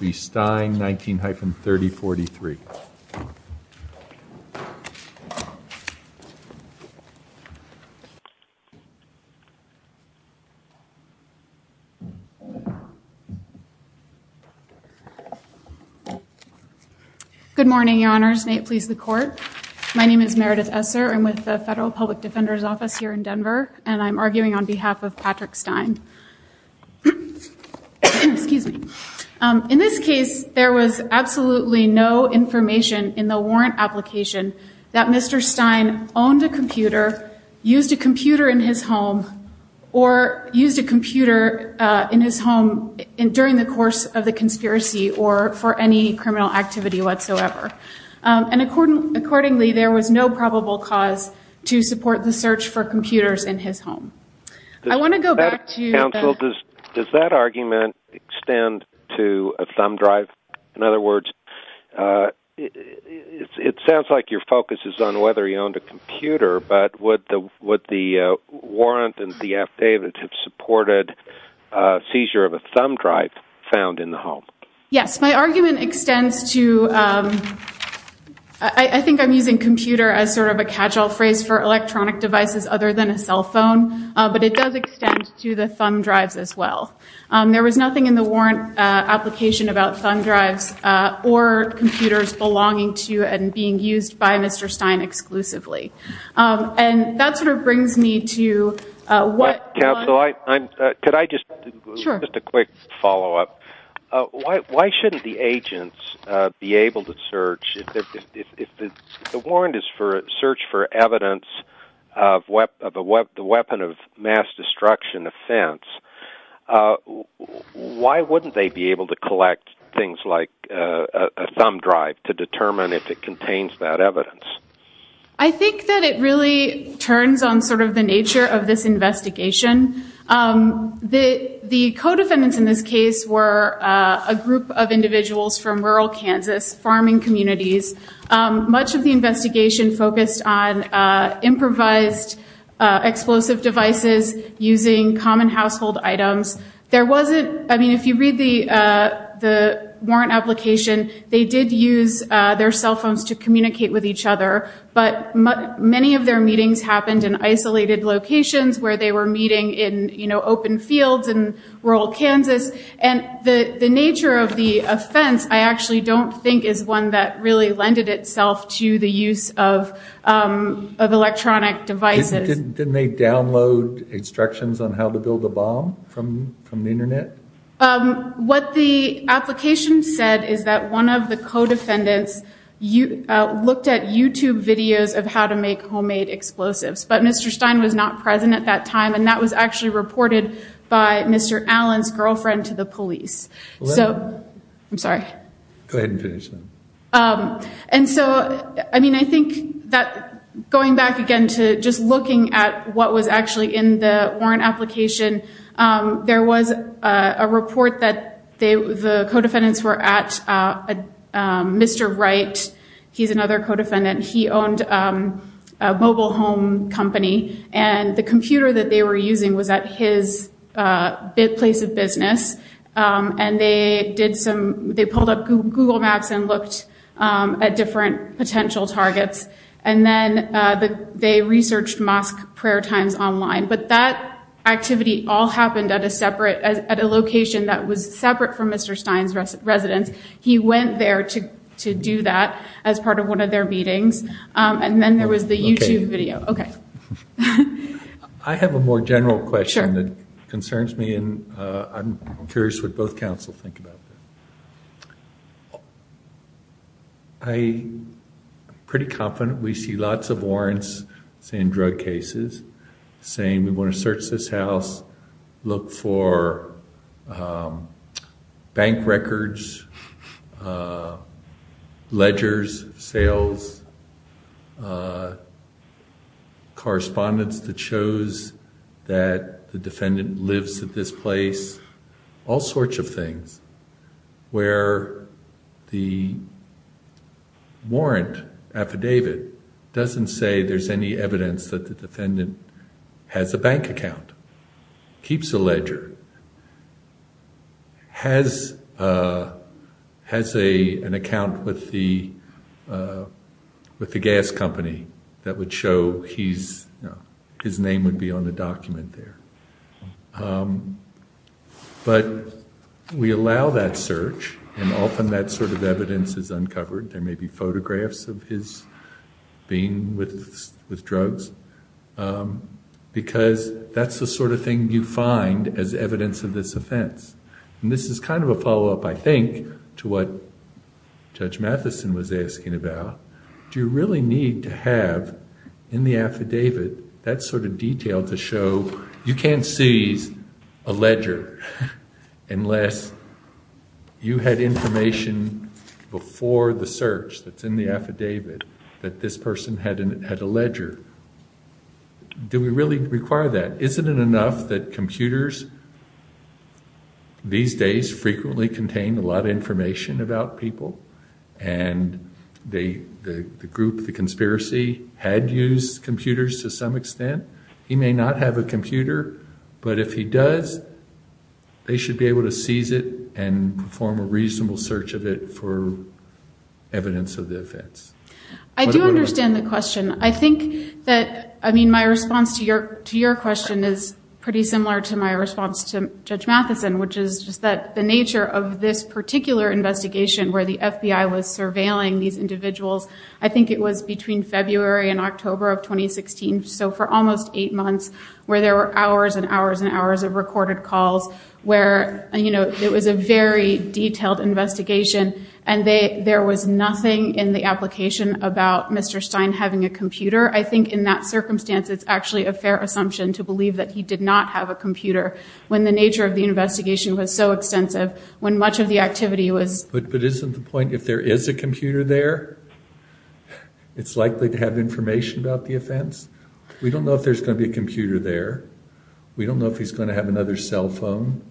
19-3043 Good morning, Your Honors. May it please the Court. My name is Meredith Esser. I'm with the Federal Public Defender's Office here in Denver and I'm absolutely no information in the warrant application that Mr. Stein owned a computer, used a computer in his home, or used a computer in his home during the course of the conspiracy or for any criminal activity whatsoever. And accordingly, there was no probable cause to support the search for computers in his home. I want to go back to... Does that argument extend to a thumb drive? In other words, it sounds like your focus is on whether he owned a computer, but would the warrant and the affidavit have supported seizure of a thumb drive found in the home? Yes, my argument extends to... I think I'm using computer as sort of a casual phrase for electronic devices other than a cell phone, but it does extend to the thumb drives as well. There was nothing in the home about thumb drives or computers belonging to and being used by Mr. Stein exclusively. And that sort of brings me to what... Counsel, could I just... Sure. Just a quick follow-up. Why shouldn't the agents be able to search... If the warrant is for a search for evidence of the weapon of mass destruction offense, why wouldn't they be able to collect things like a thumb drive to determine if it contains that evidence? I think that it really turns on sort of the nature of this investigation. The co-defendants in this case were a group of individuals from rural Kansas farming communities. Much of the investigation focused on improvised explosive devices using common household items. There wasn't... I mean, if you read the the warrant application, they did use their cell phones to communicate with each other, but many of their meetings happened in isolated locations where they were meeting in, you know, open fields in rural Kansas. And the nature of the offense I actually don't think is one that really lended itself to the use of electronic devices. Didn't they download instructions on how to build a bomb from the internet? What the application said is that one of the co-defendants looked at YouTube videos of how to make homemade explosives. But Mr. Stein was not present at that time and that was actually reported by Mr. Allen's girlfriend to the police. So... I'm And so, I mean, I think that going back again to just looking at what was actually in the warrant application, there was a report that the co-defendants were at Mr. Wright. He's another co-defendant. He owned a mobile home company and the computer that they were using was at his place of business. And they did some... they pulled up Google Maps and looked at different potential targets. And then they researched mosque prayer times online. But that activity all happened at a separate... at a location that was separate from Mr. Stein's residence. He went there to do that as part of one of their meetings. And then there was the YouTube video. Okay. I have a more I'm curious what both counsel think about that. I'm pretty confident we see lots of warrants saying drug cases, saying we want to search this house, look for bank records, ledgers, sales, correspondence that shows that the defendant lives at his place, all sorts of things where the warrant affidavit doesn't say there's any evidence that the defendant has a bank account, keeps a ledger, has an account with the gas company that would show his name would be on the but we allow that search and often that sort of evidence is uncovered. There may be photographs of his being with drugs because that's the sort of thing you find as evidence of this offense. And this is kind of a follow-up I think to what Judge Matheson was asking about. Do you really need to have in the affidavit that sort of detail to show you can't seize a ledger unless you had information before the search that's in the affidavit that this person had a ledger? Do we really require that? Isn't it enough that computers these days frequently contain a lot of information about people and the group, the He may not have a computer, but if he does, they should be able to seize it and perform a reasonable search of it for evidence of the offense. I do understand the question. I think that, I mean, my response to your question is pretty similar to my response to Judge Matheson, which is just that the nature of this particular investigation where the FBI was surveilling these almost eight months, where there were hours and hours and hours of recorded calls, where, you know, it was a very detailed investigation and there was nothing in the application about Mr. Stein having a computer. I think in that circumstance, it's actually a fair assumption to believe that he did not have a computer when the nature of the investigation was so extensive, when much of the activity was... But isn't the point if there is a computer there, it's likely to have information about the offense? We don't know if there's going to be a computer there. We don't know if he's going to have another cell phone.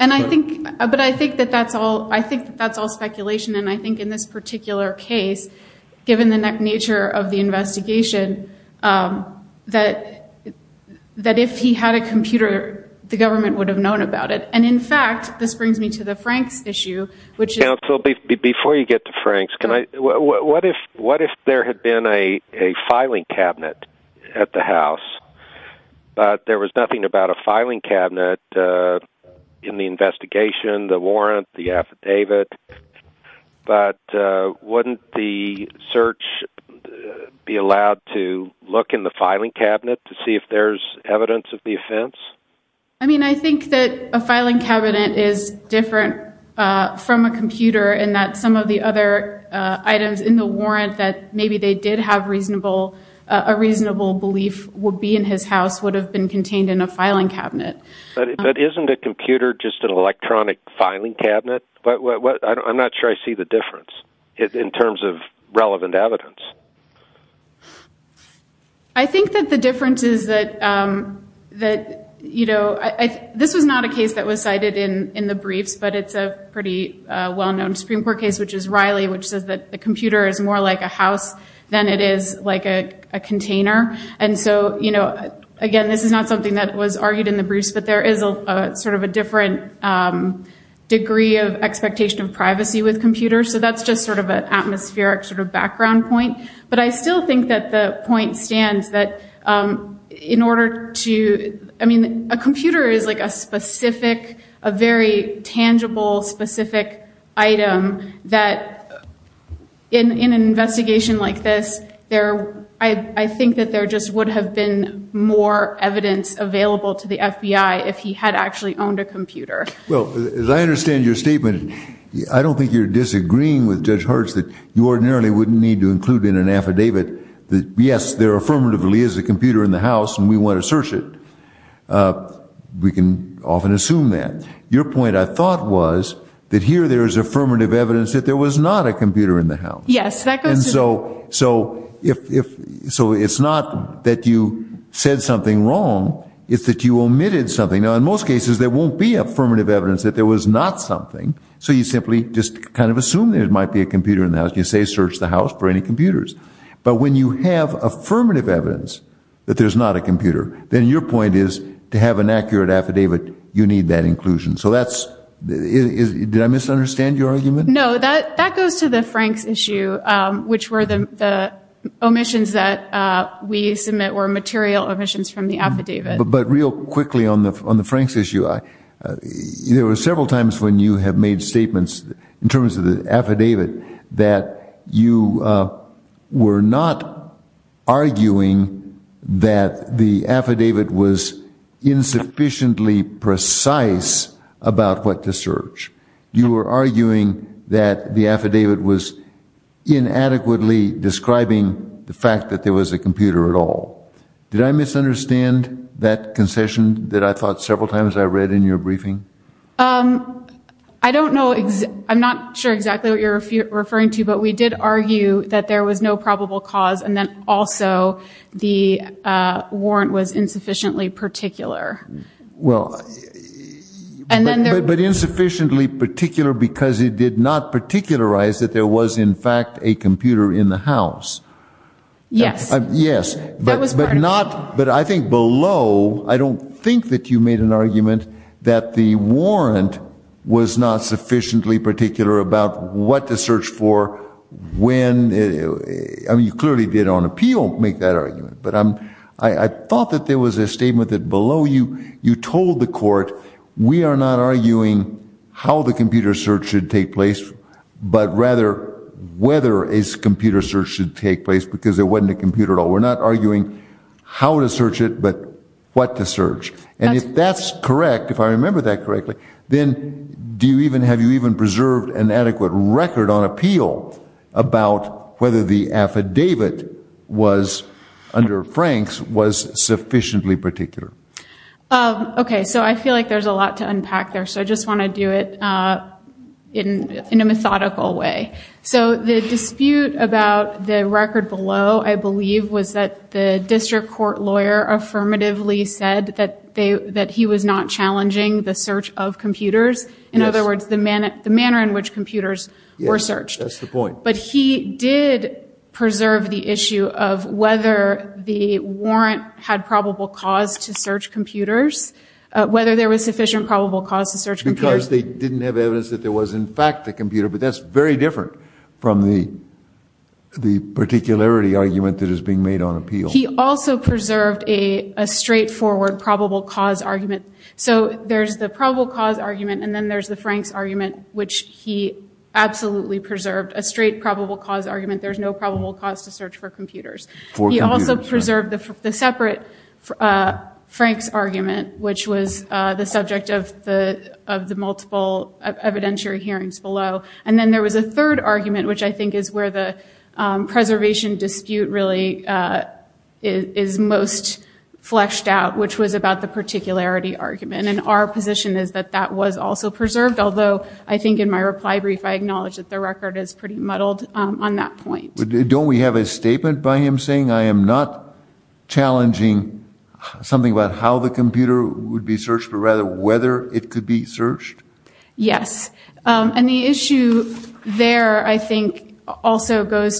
And I think, but I think that that's all, I think that's all speculation and I think in this particular case, given the nature of the investigation, that if he had a computer, the government would have known about it. And in fact, this brings me to the Franks issue, which is... To get to Franks, what if there had been a filing cabinet at the house, but there was nothing about a filing cabinet in the investigation, the warrant, the affidavit, but wouldn't the search be allowed to look in the filing cabinet to see if there's evidence of the offense? I mean, I think that a filing cabinet is different from a computer in that some of the other items in the warrant that maybe they did have reasonable, a reasonable belief would be in his house, would have been contained in a filing cabinet. But isn't a computer just an electronic filing cabinet? But what, I'm not sure I see the difference in terms of relevant evidence. I think that the difference is that, you know, this was not a case that was cited in the case, which is Riley, which says that the computer is more like a house than it is like a container. And so, you know, again, this is not something that was argued in the briefs, but there is a sort of a different degree of expectation of privacy with computers. So that's just sort of an atmospheric sort of background point. But I still think that the point stands that in order to... I mean, a specific, a very tangible specific item that in an investigation like this, there, I think that there just would have been more evidence available to the FBI if he had actually owned a computer. Well, as I understand your statement, I don't think you're disagreeing with Judge Hertz that you ordinarily wouldn't need to include in an affidavit that, yes, there affirmatively is a computer in the house and we want to search it. We can often assume that. Your point, I thought, was that here there is affirmative evidence that there was not a computer in the house. Yes, that goes to... And so it's not that you said something wrong, it's that you omitted something. Now, in most cases, there won't be affirmative evidence that there was not something, so you simply just kind of assume there might be a computer in the house. You say search the house for any computers. But when you have affirmative evidence that there's not a computer, then your point is to have an accurate affidavit, you need that inclusion. So that's... Did I misunderstand your argument? No, that goes to the Franks issue, which were the omissions that we submit were material omissions from the affidavit. But real quickly on the Franks issue, there were several times when you have made statements in terms of the affidavit that you were not arguing that the affidavit was insufficiently precise about what to search. You were arguing that the affidavit was inadequately describing the fact that there was a computer at all. Did I misunderstand that concession that I thought several times I read in your briefing? I don't know, I'm not sure exactly what you're referring to, but we did argue that there was no probable cause, and then also the warrant was insufficiently particular. Well, but insufficiently particular because it did not particularize that there was, in fact, a computer in the house. Yes. Yes, but not, but I think below, I don't think that you made an argument that the warrant was not sufficiently particular about what to search for, when, I mean, you clearly did on appeal make that argument, but I'm, I thought that there was a statement that below you, you told the court, we are not arguing how the computer search should take place, but rather whether a computer search should take place, because there wasn't a computer at all. We're not correct, if I remember that correctly, then do you even, have you even preserved an adequate record on appeal about whether the affidavit was, under Frank's, was sufficiently particular? Okay, so I feel like there's a lot to unpack there, so I just want to do it in a methodical way. So the dispute about the record below, I believe, was that the district court lawyer affirmatively said that they, that he was not challenging the search of computers, in other words, the manner, the manner in which computers were searched. That's the point. But he did preserve the issue of whether the warrant had probable cause to search computers, whether there was sufficient probable cause to search computers. Because they didn't have evidence that there was, in fact, a computer, but that's very different from the, the particularity argument that is being made on appeal. He also preserved a straightforward probable cause argument. So there's the probable cause argument, and then there's the Frank's argument, which he absolutely preserved. A straight probable cause argument, there's no probable cause to search for computers. He also preserved the separate Frank's argument, which was the subject of the, of the multiple evidentiary hearings below. And then there was a third argument, which I think is where the preservation dispute really is most fleshed out, which was about the particularity argument. And our position is that that was also preserved, although I think in my reply brief I acknowledged that the record is pretty muddled on that point. Don't we have a statement by him saying, I am not challenging something about how the computer would be searched, but rather whether it could be searched? Yes. And the issue there, I think, is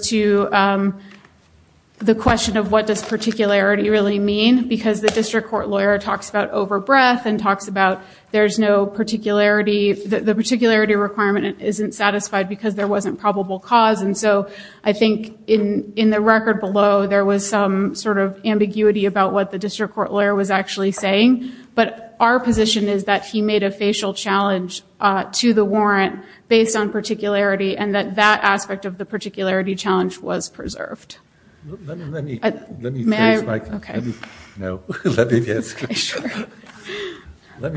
the question of what does particularity really mean? Because the district court lawyer talks about over-breath and talks about there's no particularity, the particularity requirement isn't satisfied because there wasn't probable cause. And so I think in, in the record below, there was some sort of ambiguity about what the district court lawyer was actually saying, but our position is that he made a facial challenge to the warrant based on particularity, and that that aspect of the particularity challenge was preserved. Let me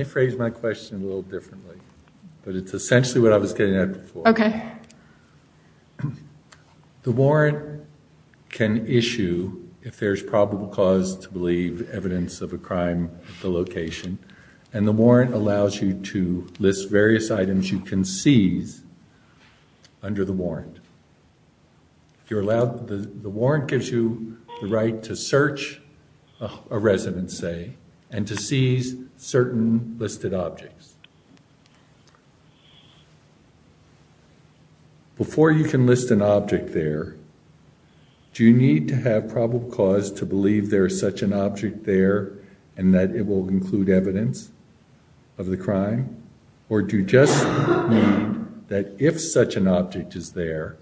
phrase my question a little differently, but it's essentially what I was getting at before. The warrant can issue, if there's probable cause, to believe evidence of a crime at the location, and the warrant allows you to the warrant gives you the right to search a resident, say, and to seize certain listed objects. Before you can list an object there, do you need to have probable cause to believe there is such an object there and that it will include evidence of the crime, or do you just need that if such an object is there,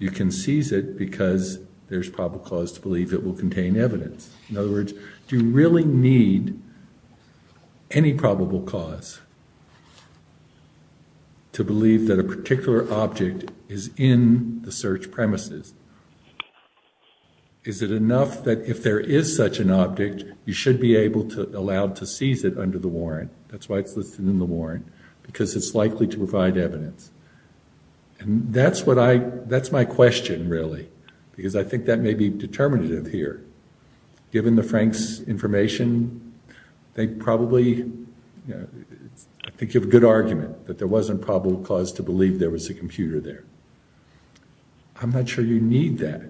you can seize it because there's probable cause to believe it will contain evidence? In other words, do you really need any probable cause to believe that a particular object is in the search premises? Is it enough that if there is such an object, you should be allowed to seize it under the warrant? That's why it's listed in the warrant, because it's likely to provide evidence, and that's my question, really, because I think that may be determinative here. Given the Frank's information, I think you have a good argument that there wasn't probable cause to believe there was a computer there. I'm not sure you need that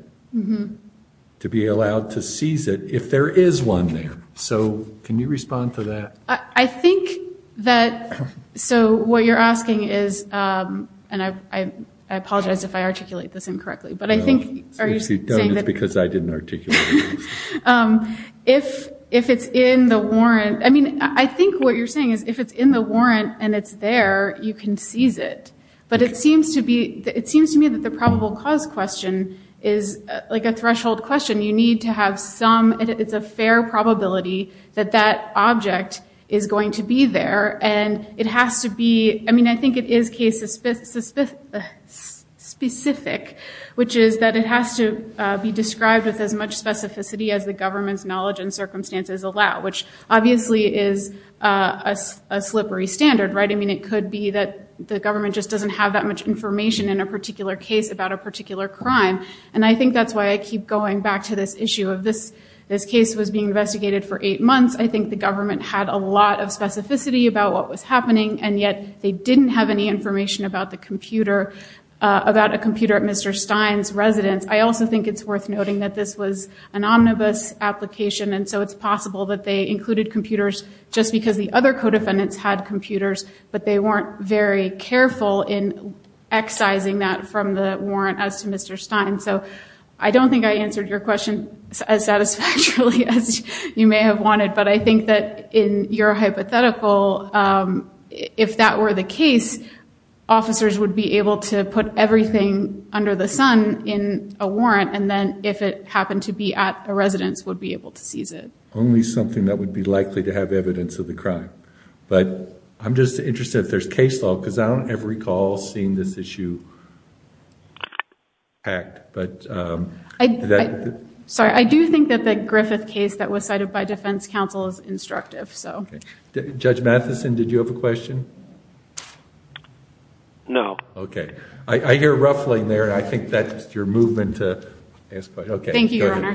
to be allowed to seize it if there is one there, so can you respond to that? I think that, so what you're asking is, and I apologize if I articulate this incorrectly, but I think, are you saying that, because I didn't articulate it, if it's in the warrant, I mean, I think what you're saying is if it's in the warrant, and it's there, you can seize it, but it seems to me that the probable cause question is like a threshold question. You need to have some, it's a fair probability that that object is going to be there, and it has to be, I mean, I think it is case specific, which is that it has to be described with as much specificity as the government's knowledge and circumstances allow, which obviously is a slippery standard, right? I mean, it just doesn't have that much information in a particular case about a particular crime, and I think that's why I keep going back to this issue of this, this case was being investigated for eight months. I think the government had a lot of specificity about what was happening, and yet they didn't have any information about the computer, about a computer at Mr. Stein's residence. I also think it's worth noting that this was an omnibus application, and so it's possible that they included computers just because the other co-defendants had computers, but they weren't very careful in excising that from the warrant as to Mr. Stein. So I don't think I answered your question as satisfactorily as you may have wanted, but I think that in your hypothetical, if that were the case, officers would be able to put everything under the sun in a warrant, and then if it happened to be at a residence, would be able to seize it. Only something that would be likely to have evidence of the crime, but I'm just interested if there's case law, because I don't ever recall seeing this issue, but... Sorry, I do think that the Griffith case that was cited by defense counsel is instructive, so... Judge Matheson, did you have a question? No. Okay, I hear ruffling there, and I think that's your movement to ask questions. Okay. Thank you, Your Honor.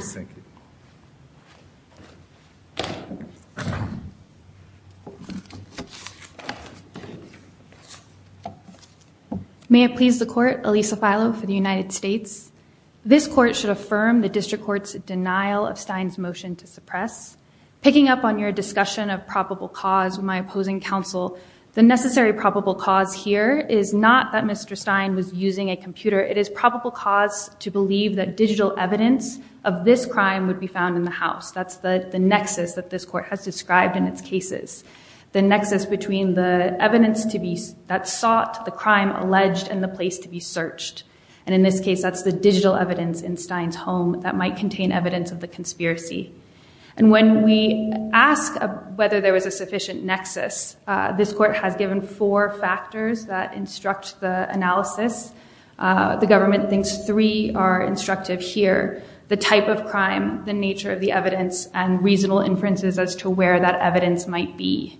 May it please the Court, Elisa Filo for the United States. This Court should affirm the District Court's denial of Stein's motion to suppress. Picking up on your discussion of probable cause with my opposing counsel, the necessary probable cause here is not that Mr. Stein was using a computer. It is probable cause to believe that digital evidence of this crime would be found in the house. That's the nexus that this Court has described in its cases. The nexus between the evidence that's sought, the crime alleged, and the place to be searched. And in this case, that's the digital evidence in Stein's home that might contain evidence of the conspiracy. And when we ask whether there was a sufficient nexus, this Court has given four factors that instruct the analysis. The government thinks three are instructive here. The type of crime, the nature of the evidence, and reasonable inferences as to where that evidence might be.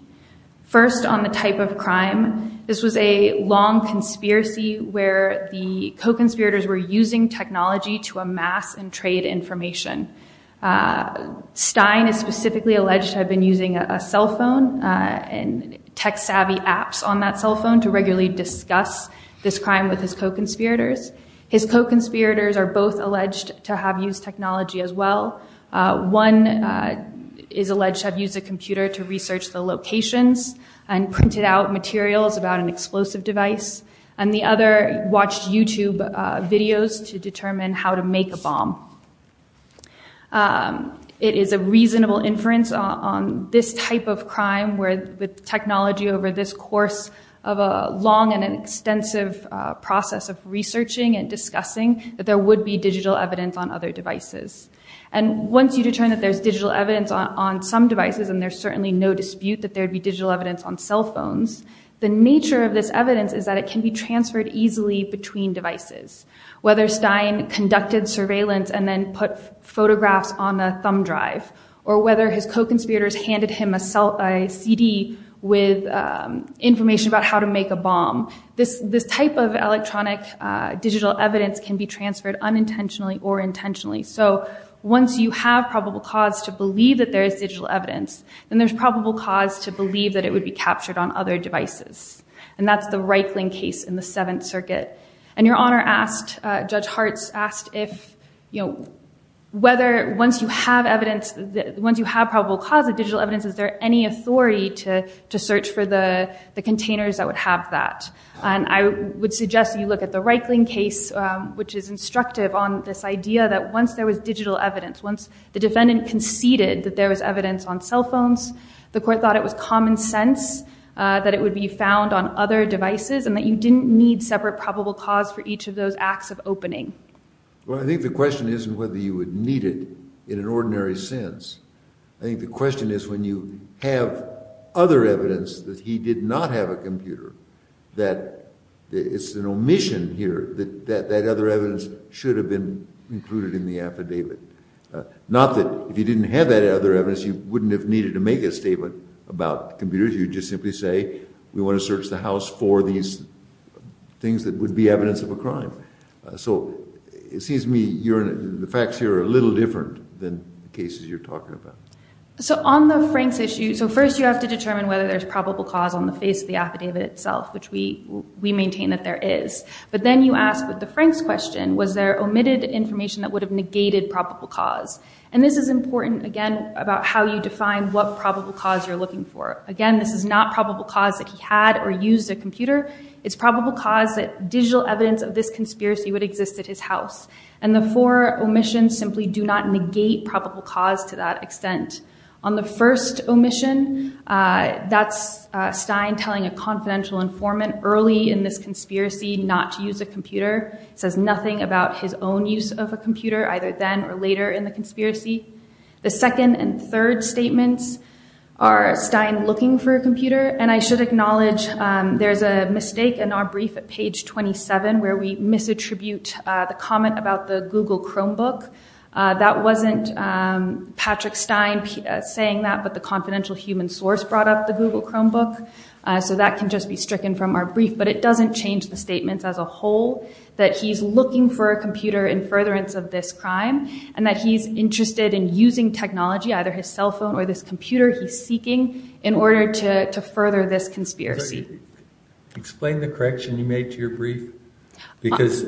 First, on the type of crime, this was a long conspiracy where the co-conspirators were using technology to amass and trade information. Stein is specifically alleged to have been using a cell phone and tech-savvy apps on that cell phone to regularly discuss this crime with his co-conspirators. His co-conspirators are both alleged to have used technology as well. One is alleged to have used a computer to research the locations and printed out materials about an explosive device. And the other watched YouTube videos to determine how to make a bomb. It is a reasonable inference on this type of crime where the technology over this course of a long and an extensive process of researching and discussing that there would be digital evidence on other devices. And once you determine that there's digital evidence on some devices, and there's certainly no dispute that there'd be digital evidence on cell phones, the nature of this evidence is that it can be transferred easily between devices. Whether Stein conducted surveillance and then put photographs on a CD with information about how to make a bomb, this type of electronic digital evidence can be transferred unintentionally or intentionally. So once you have probable cause to believe that there is digital evidence, then there's probable cause to believe that it would be captured on other devices. And that's the Reichling case in the Seventh Circuit. And Your Honor asked, Judge Harts asked if, you know, whether once you have evidence, once you have probable cause of digital evidence, is there any authority to search for the containers that would have that? And I would suggest you look at the Reichling case, which is instructive on this idea that once there was digital evidence, once the defendant conceded that there was evidence on cell phones, the court thought it was common sense that it would be found on other devices and that you didn't need separate probable cause for each of those acts of opening. Well, I think the question isn't whether you would need it in an ordinary sense. I think the question is when you have other evidence that he did not have a computer, that it's an omission here that that other evidence should have been included in the affidavit. Not that if you didn't have that other evidence, you wouldn't have needed to make a statement about computers. You just simply say, we want to search the house for these things that would be evidence of a crime. So it seems to me, Your Honor, the facts here are a little different than the So on the Franks issue, so first you have to determine whether there's probable cause on the face of the affidavit itself, which we maintain that there is. But then you ask with the Franks question, was there omitted information that would have negated probable cause? And this is important, again, about how you define what probable cause you're looking for. Again, this is not probable cause that he had or used a computer. It's probable cause that digital evidence of this conspiracy would exist at his house. And the four omissions simply do not negate probable cause to that extent. On the first omission, that's Stein telling a confidential informant early in this conspiracy not to use a computer. Says nothing about his own use of a computer, either then or later in the conspiracy. The second and third statements are Stein looking for a computer. And I should acknowledge there's a mistake in our brief at page where we misattribute the comment about the Google Chromebook. That wasn't Patrick Stein saying that, but the confidential human source brought up the Google Chromebook. So that can just be stricken from our brief. But it doesn't change the statements as a whole, that he's looking for a computer in furtherance of this crime, and that he's interested in using technology, either his cell phone or this computer he's seeking, in order to further this brief. Because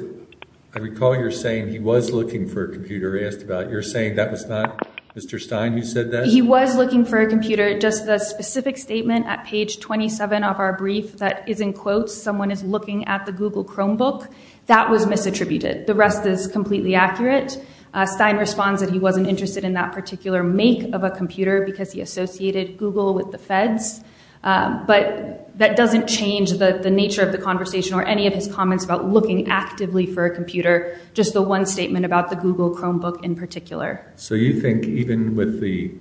I recall you're saying he was looking for a computer. You're saying that was not Mr. Stein who said that? He was looking for a computer. Just the specific statement at page 27 of our brief that is in quotes, someone is looking at the Google Chromebook, that was misattributed. The rest is completely accurate. Stein responds that he wasn't interested in that particular make of a computer because he associated Google with the feds. But that doesn't change the nature of the conversation or any of his comments about looking actively for a computer, just the one statement about the Google Chromebook in particular. So you think even with the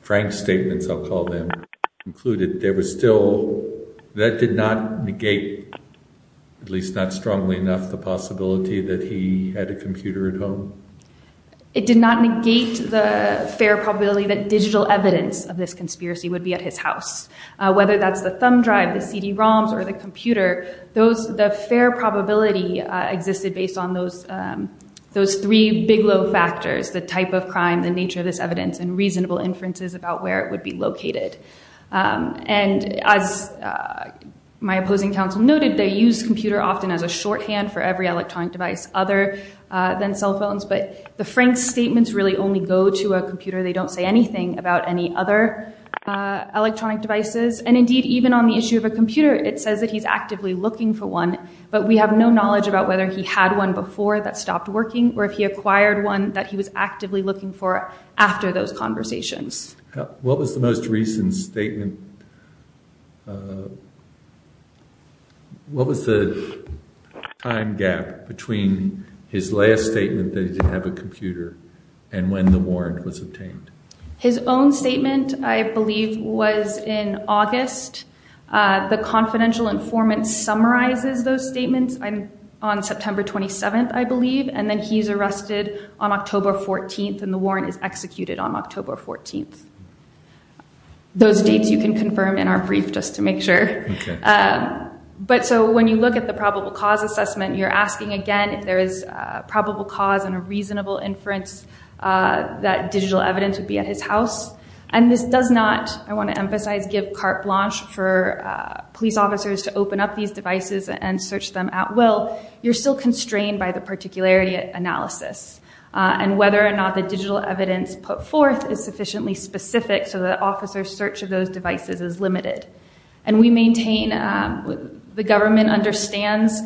Frank statements, I'll call them, included, there was still, that did not negate, at least not strongly enough, the possibility that he had a computer at home? It did not negate the fair probability that digital evidence of this conspiracy would be at his house. Whether that's the thumb drive, the CD-ROMs, or the computer, the fair probability existed based on those three big low factors, the type of crime, the nature of this evidence, and reasonable inferences about where it would be located. And as my opposing counsel noted, they use computer often as a shorthand for every electronic device other than cell phones. But the Frank statements really only go to a computer. They don't say anything about any other electronic devices. And indeed even on the issue of a computer, it says that he's actively looking for one, but we have no knowledge about whether he had one before that stopped working or if he acquired one that he was actively looking for after those conversations. What was the most recent statement? What was the time gap between his last statement that he didn't have a computer and when the warrant was obtained? His own statement, I believe, was in August. The confidential informant summarizes those statements on September 27th, I believe, and then he's arrested on October 14th and the warrant is executed on October 14th. Those dates you can confirm in our brief just to make sure. But so when you look at the probable cause assessment, you're asking again if there is probable cause and a reasonable inference that digital evidence would be at his house. And this does not, I want to emphasize, give carte blanche for police officers to open up these devices and search them at will. You're still constrained by the particularity analysis. And whether or not the digital evidence put forth is sufficiently specific so the officer's search of those devices is limited. And we maintain the government understands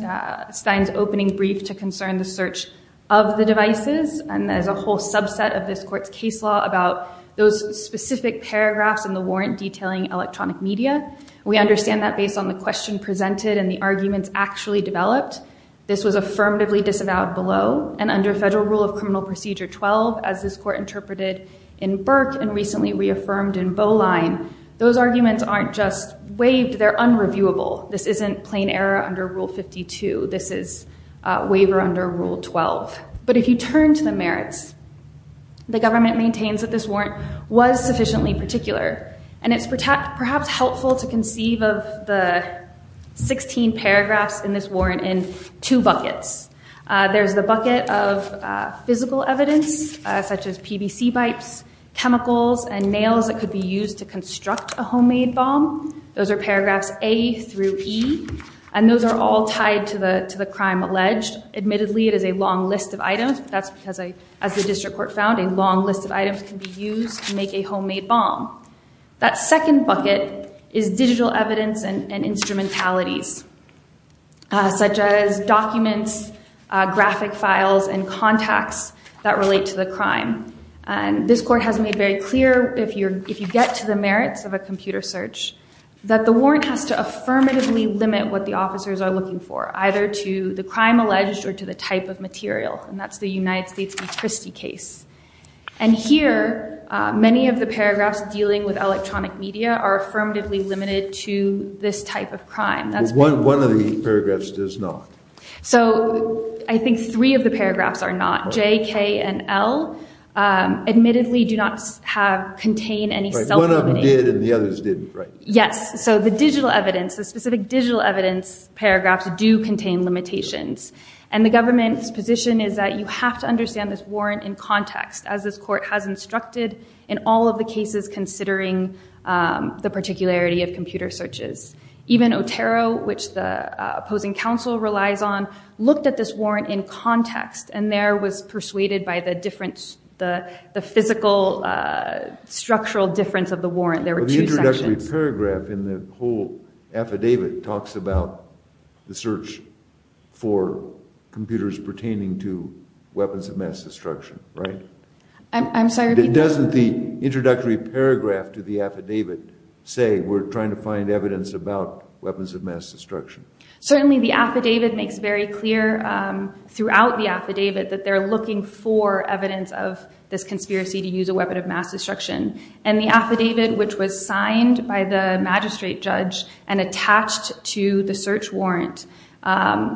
Stein's opening brief to concern the search of the devices. And there's a whole subset of this court's case law about those specific paragraphs in the warrant detailing electronic media. We understand that based on the question presented and the arguments actually developed. This was affirmatively disavowed below and under federal rule of criminal procedure 12, as this court interpreted in Burke and recently reaffirmed in Boline, those arguments aren't just waived, they're unreviewable. This isn't plain error under rule 52. This is waiver under rule 12. But if you turn to the merits, the government maintains that this warrant was sufficiently particular. And it's perhaps helpful to conceive of the 16 paragraphs in this warrant in two buckets. There's the bucket of physical evidence such as PVC pipes, chemicals, and nails that could be used to construct a U.E. And those are all tied to the crime alleged. Admittedly, it is a long list of items. That's because, as the district court found, a long list of items can be used to make a homemade bomb. That second bucket is digital evidence and instrumentalities such as documents, graphic files, and contacts that relate to the crime. And this court has made very clear if you get to the limit what the officers are looking for, either to the crime alleged or to the type of material. And that's the United States v. Christie case. And here, many of the paragraphs dealing with electronic media are affirmatively limited to this type of crime. One of the paragraphs does not. So I think three of the paragraphs are not. J, K, and L admittedly do not have contain any self-evident. One of them did and the others didn't, right? Yes. So the digital evidence, the specific digital evidence paragraphs do contain limitations. And the government's position is that you have to understand this warrant in context, as this court has instructed in all of the cases considering the particularity of computer searches. Even Otero, which the opposing counsel relies on, looked at this warrant in context and there was persuaded by the difference, the physical structural difference of the warrant. There were two sections. The introductory paragraph in the whole affidavit talks about the search for computers pertaining to weapons of mass destruction, right? I'm sorry. Doesn't the introductory paragraph to the affidavit say we're trying to find evidence about weapons of mass destruction? Certainly the affidavit makes very clear throughout the affidavit that they're looking for evidence of this conspiracy to use a weapon of mass destruction. And the affidavit, which was signed by the magistrate judge and attached to the search warrant,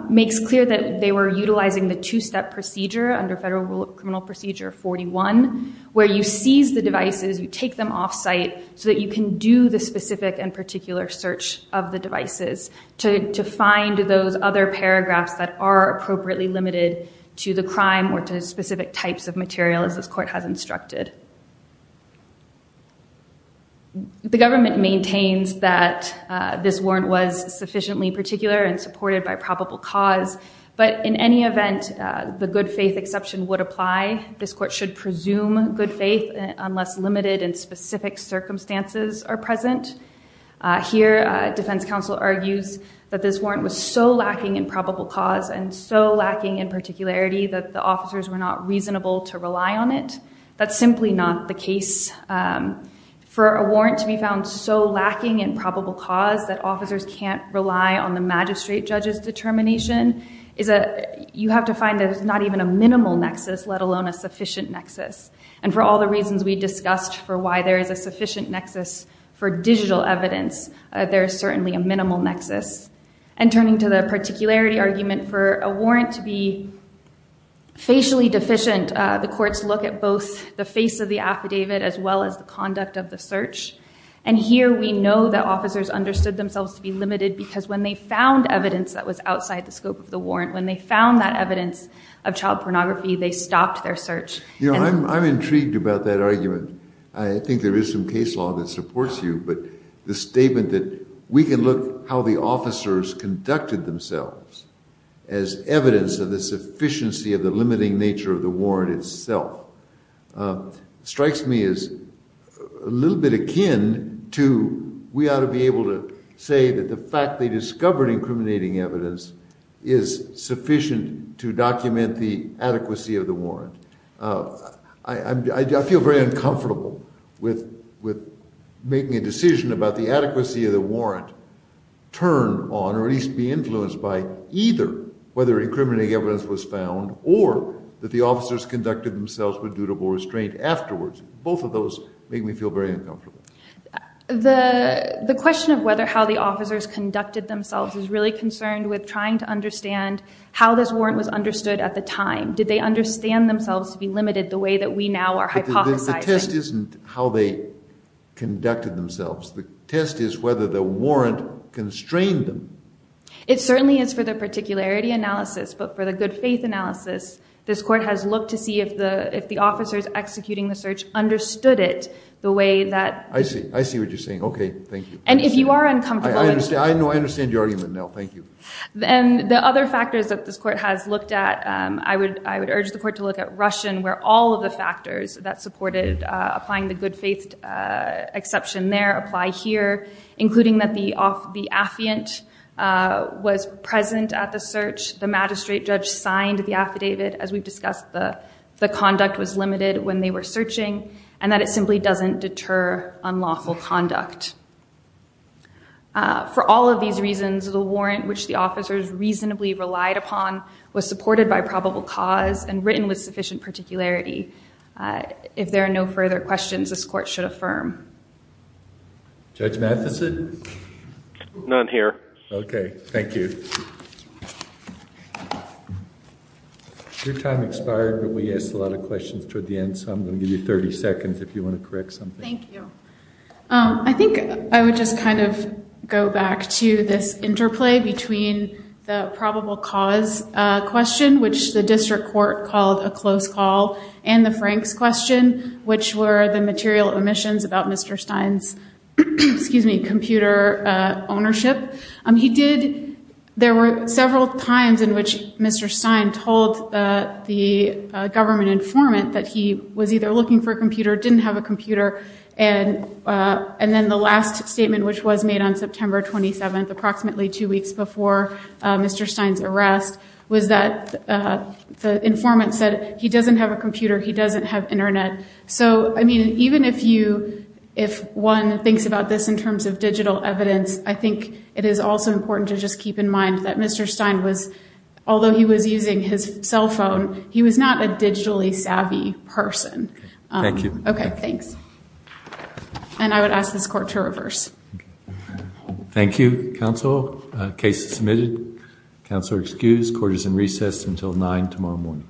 makes clear that they were utilizing the two-step procedure under federal rule of criminal procedure 41, where you seize the devices, you take them off-site so that you can do the specific and particular search of the devices to find those other paragraphs that are appropriately limited to the crime or to specific types of material, as this court has instructed. The government maintains that this warrant was sufficiently particular and supported by probable cause, but in any event, the good-faith exception would apply. This court should presume good faith unless limited and specific circumstances are present. Here, Defense Counsel argues that this warrant was so lacking in probable cause and so lacking in particularity that the officers were not reasonable to rely on it. That's simply not the case. For a warrant to be found so lacking in probable cause that officers can't rely on the magistrate judge's determination, you have to find that it's not even a minimal nexus, let alone a sufficient nexus. And for all the reasons we discussed for why there is a sufficient nexus for digital evidence, there is certainly a minimal nexus. And turning to the particularity for a warrant to be facially deficient, the courts look at both the face of the affidavit as well as the conduct of the search. And here we know that officers understood themselves to be limited because when they found evidence that was outside the scope of the warrant, when they found that evidence of child pornography, they stopped their search. You know, I'm intrigued about that argument. I think there is some case law that supports you, but the statement that we can look how the officers conducted themselves as evidence of the sufficiency of the limiting nature of the warrant itself strikes me as a little bit akin to we ought to be able to say that the fact they discovered incriminating evidence is sufficient to document the adequacy of the warrant. I feel very uncomfortable with making a decision about the adequacy of the warrant turn on or at least be influenced by either whether incriminating evidence was found or that the officers conducted themselves with dutable restraint afterwards. Both of those make me feel very uncomfortable. The question of whether how the officers conducted themselves is really concerned with trying to understand how this warrant was understood at the time. Did they understand themselves to be limited the way that we now are hypothesizing? The test isn't how they conducted themselves. The test is whether the warrant constrained them. It certainly is for the particularity analysis, but for the good faith analysis, this court has looked to see if the if the officers executing the search understood it the way that... I see, I see what you're saying. Okay, thank you. And if you are uncomfortable... I understand your argument now, thank you. Then the other factors that this court has looked at, I would I would urge the applying the good faith exception there, apply here, including that the affiant was present at the search, the magistrate judge signed the affidavit as we've discussed, the conduct was limited when they were searching, and that it simply doesn't deter unlawful conduct. For all of these reasons, the warrant which the officers reasonably relied upon was supported by probable cause and there are no further questions this court should affirm. Judge Matheson? None here. Okay, thank you. Your time expired, but we asked a lot of questions toward the end, so I'm going to give you 30 seconds if you want to correct something. Thank you. I think I would just kind of go back to this interplay between the probable cause question, which the district court called a close call, and the Franks question. Which were the material omissions about Mr. Stein's computer ownership. There were several times in which Mr. Stein told the government informant that he was either looking for a computer, didn't have a computer, and and then the last statement which was made on September 27th, approximately two weeks before Mr. Stein's arrest, was that the informant said he doesn't have a computer. So, I mean, even if one thinks about this in terms of digital evidence, I think it is also important to just keep in mind that Mr. Stein was, although he was using his cell phone, he was not a digitally savvy person. Thank you. Okay, thanks. And I would ask this court to reverse. Thank you, counsel. Case submitted. Counselor excused. Court is in recess until 9 tomorrow morning.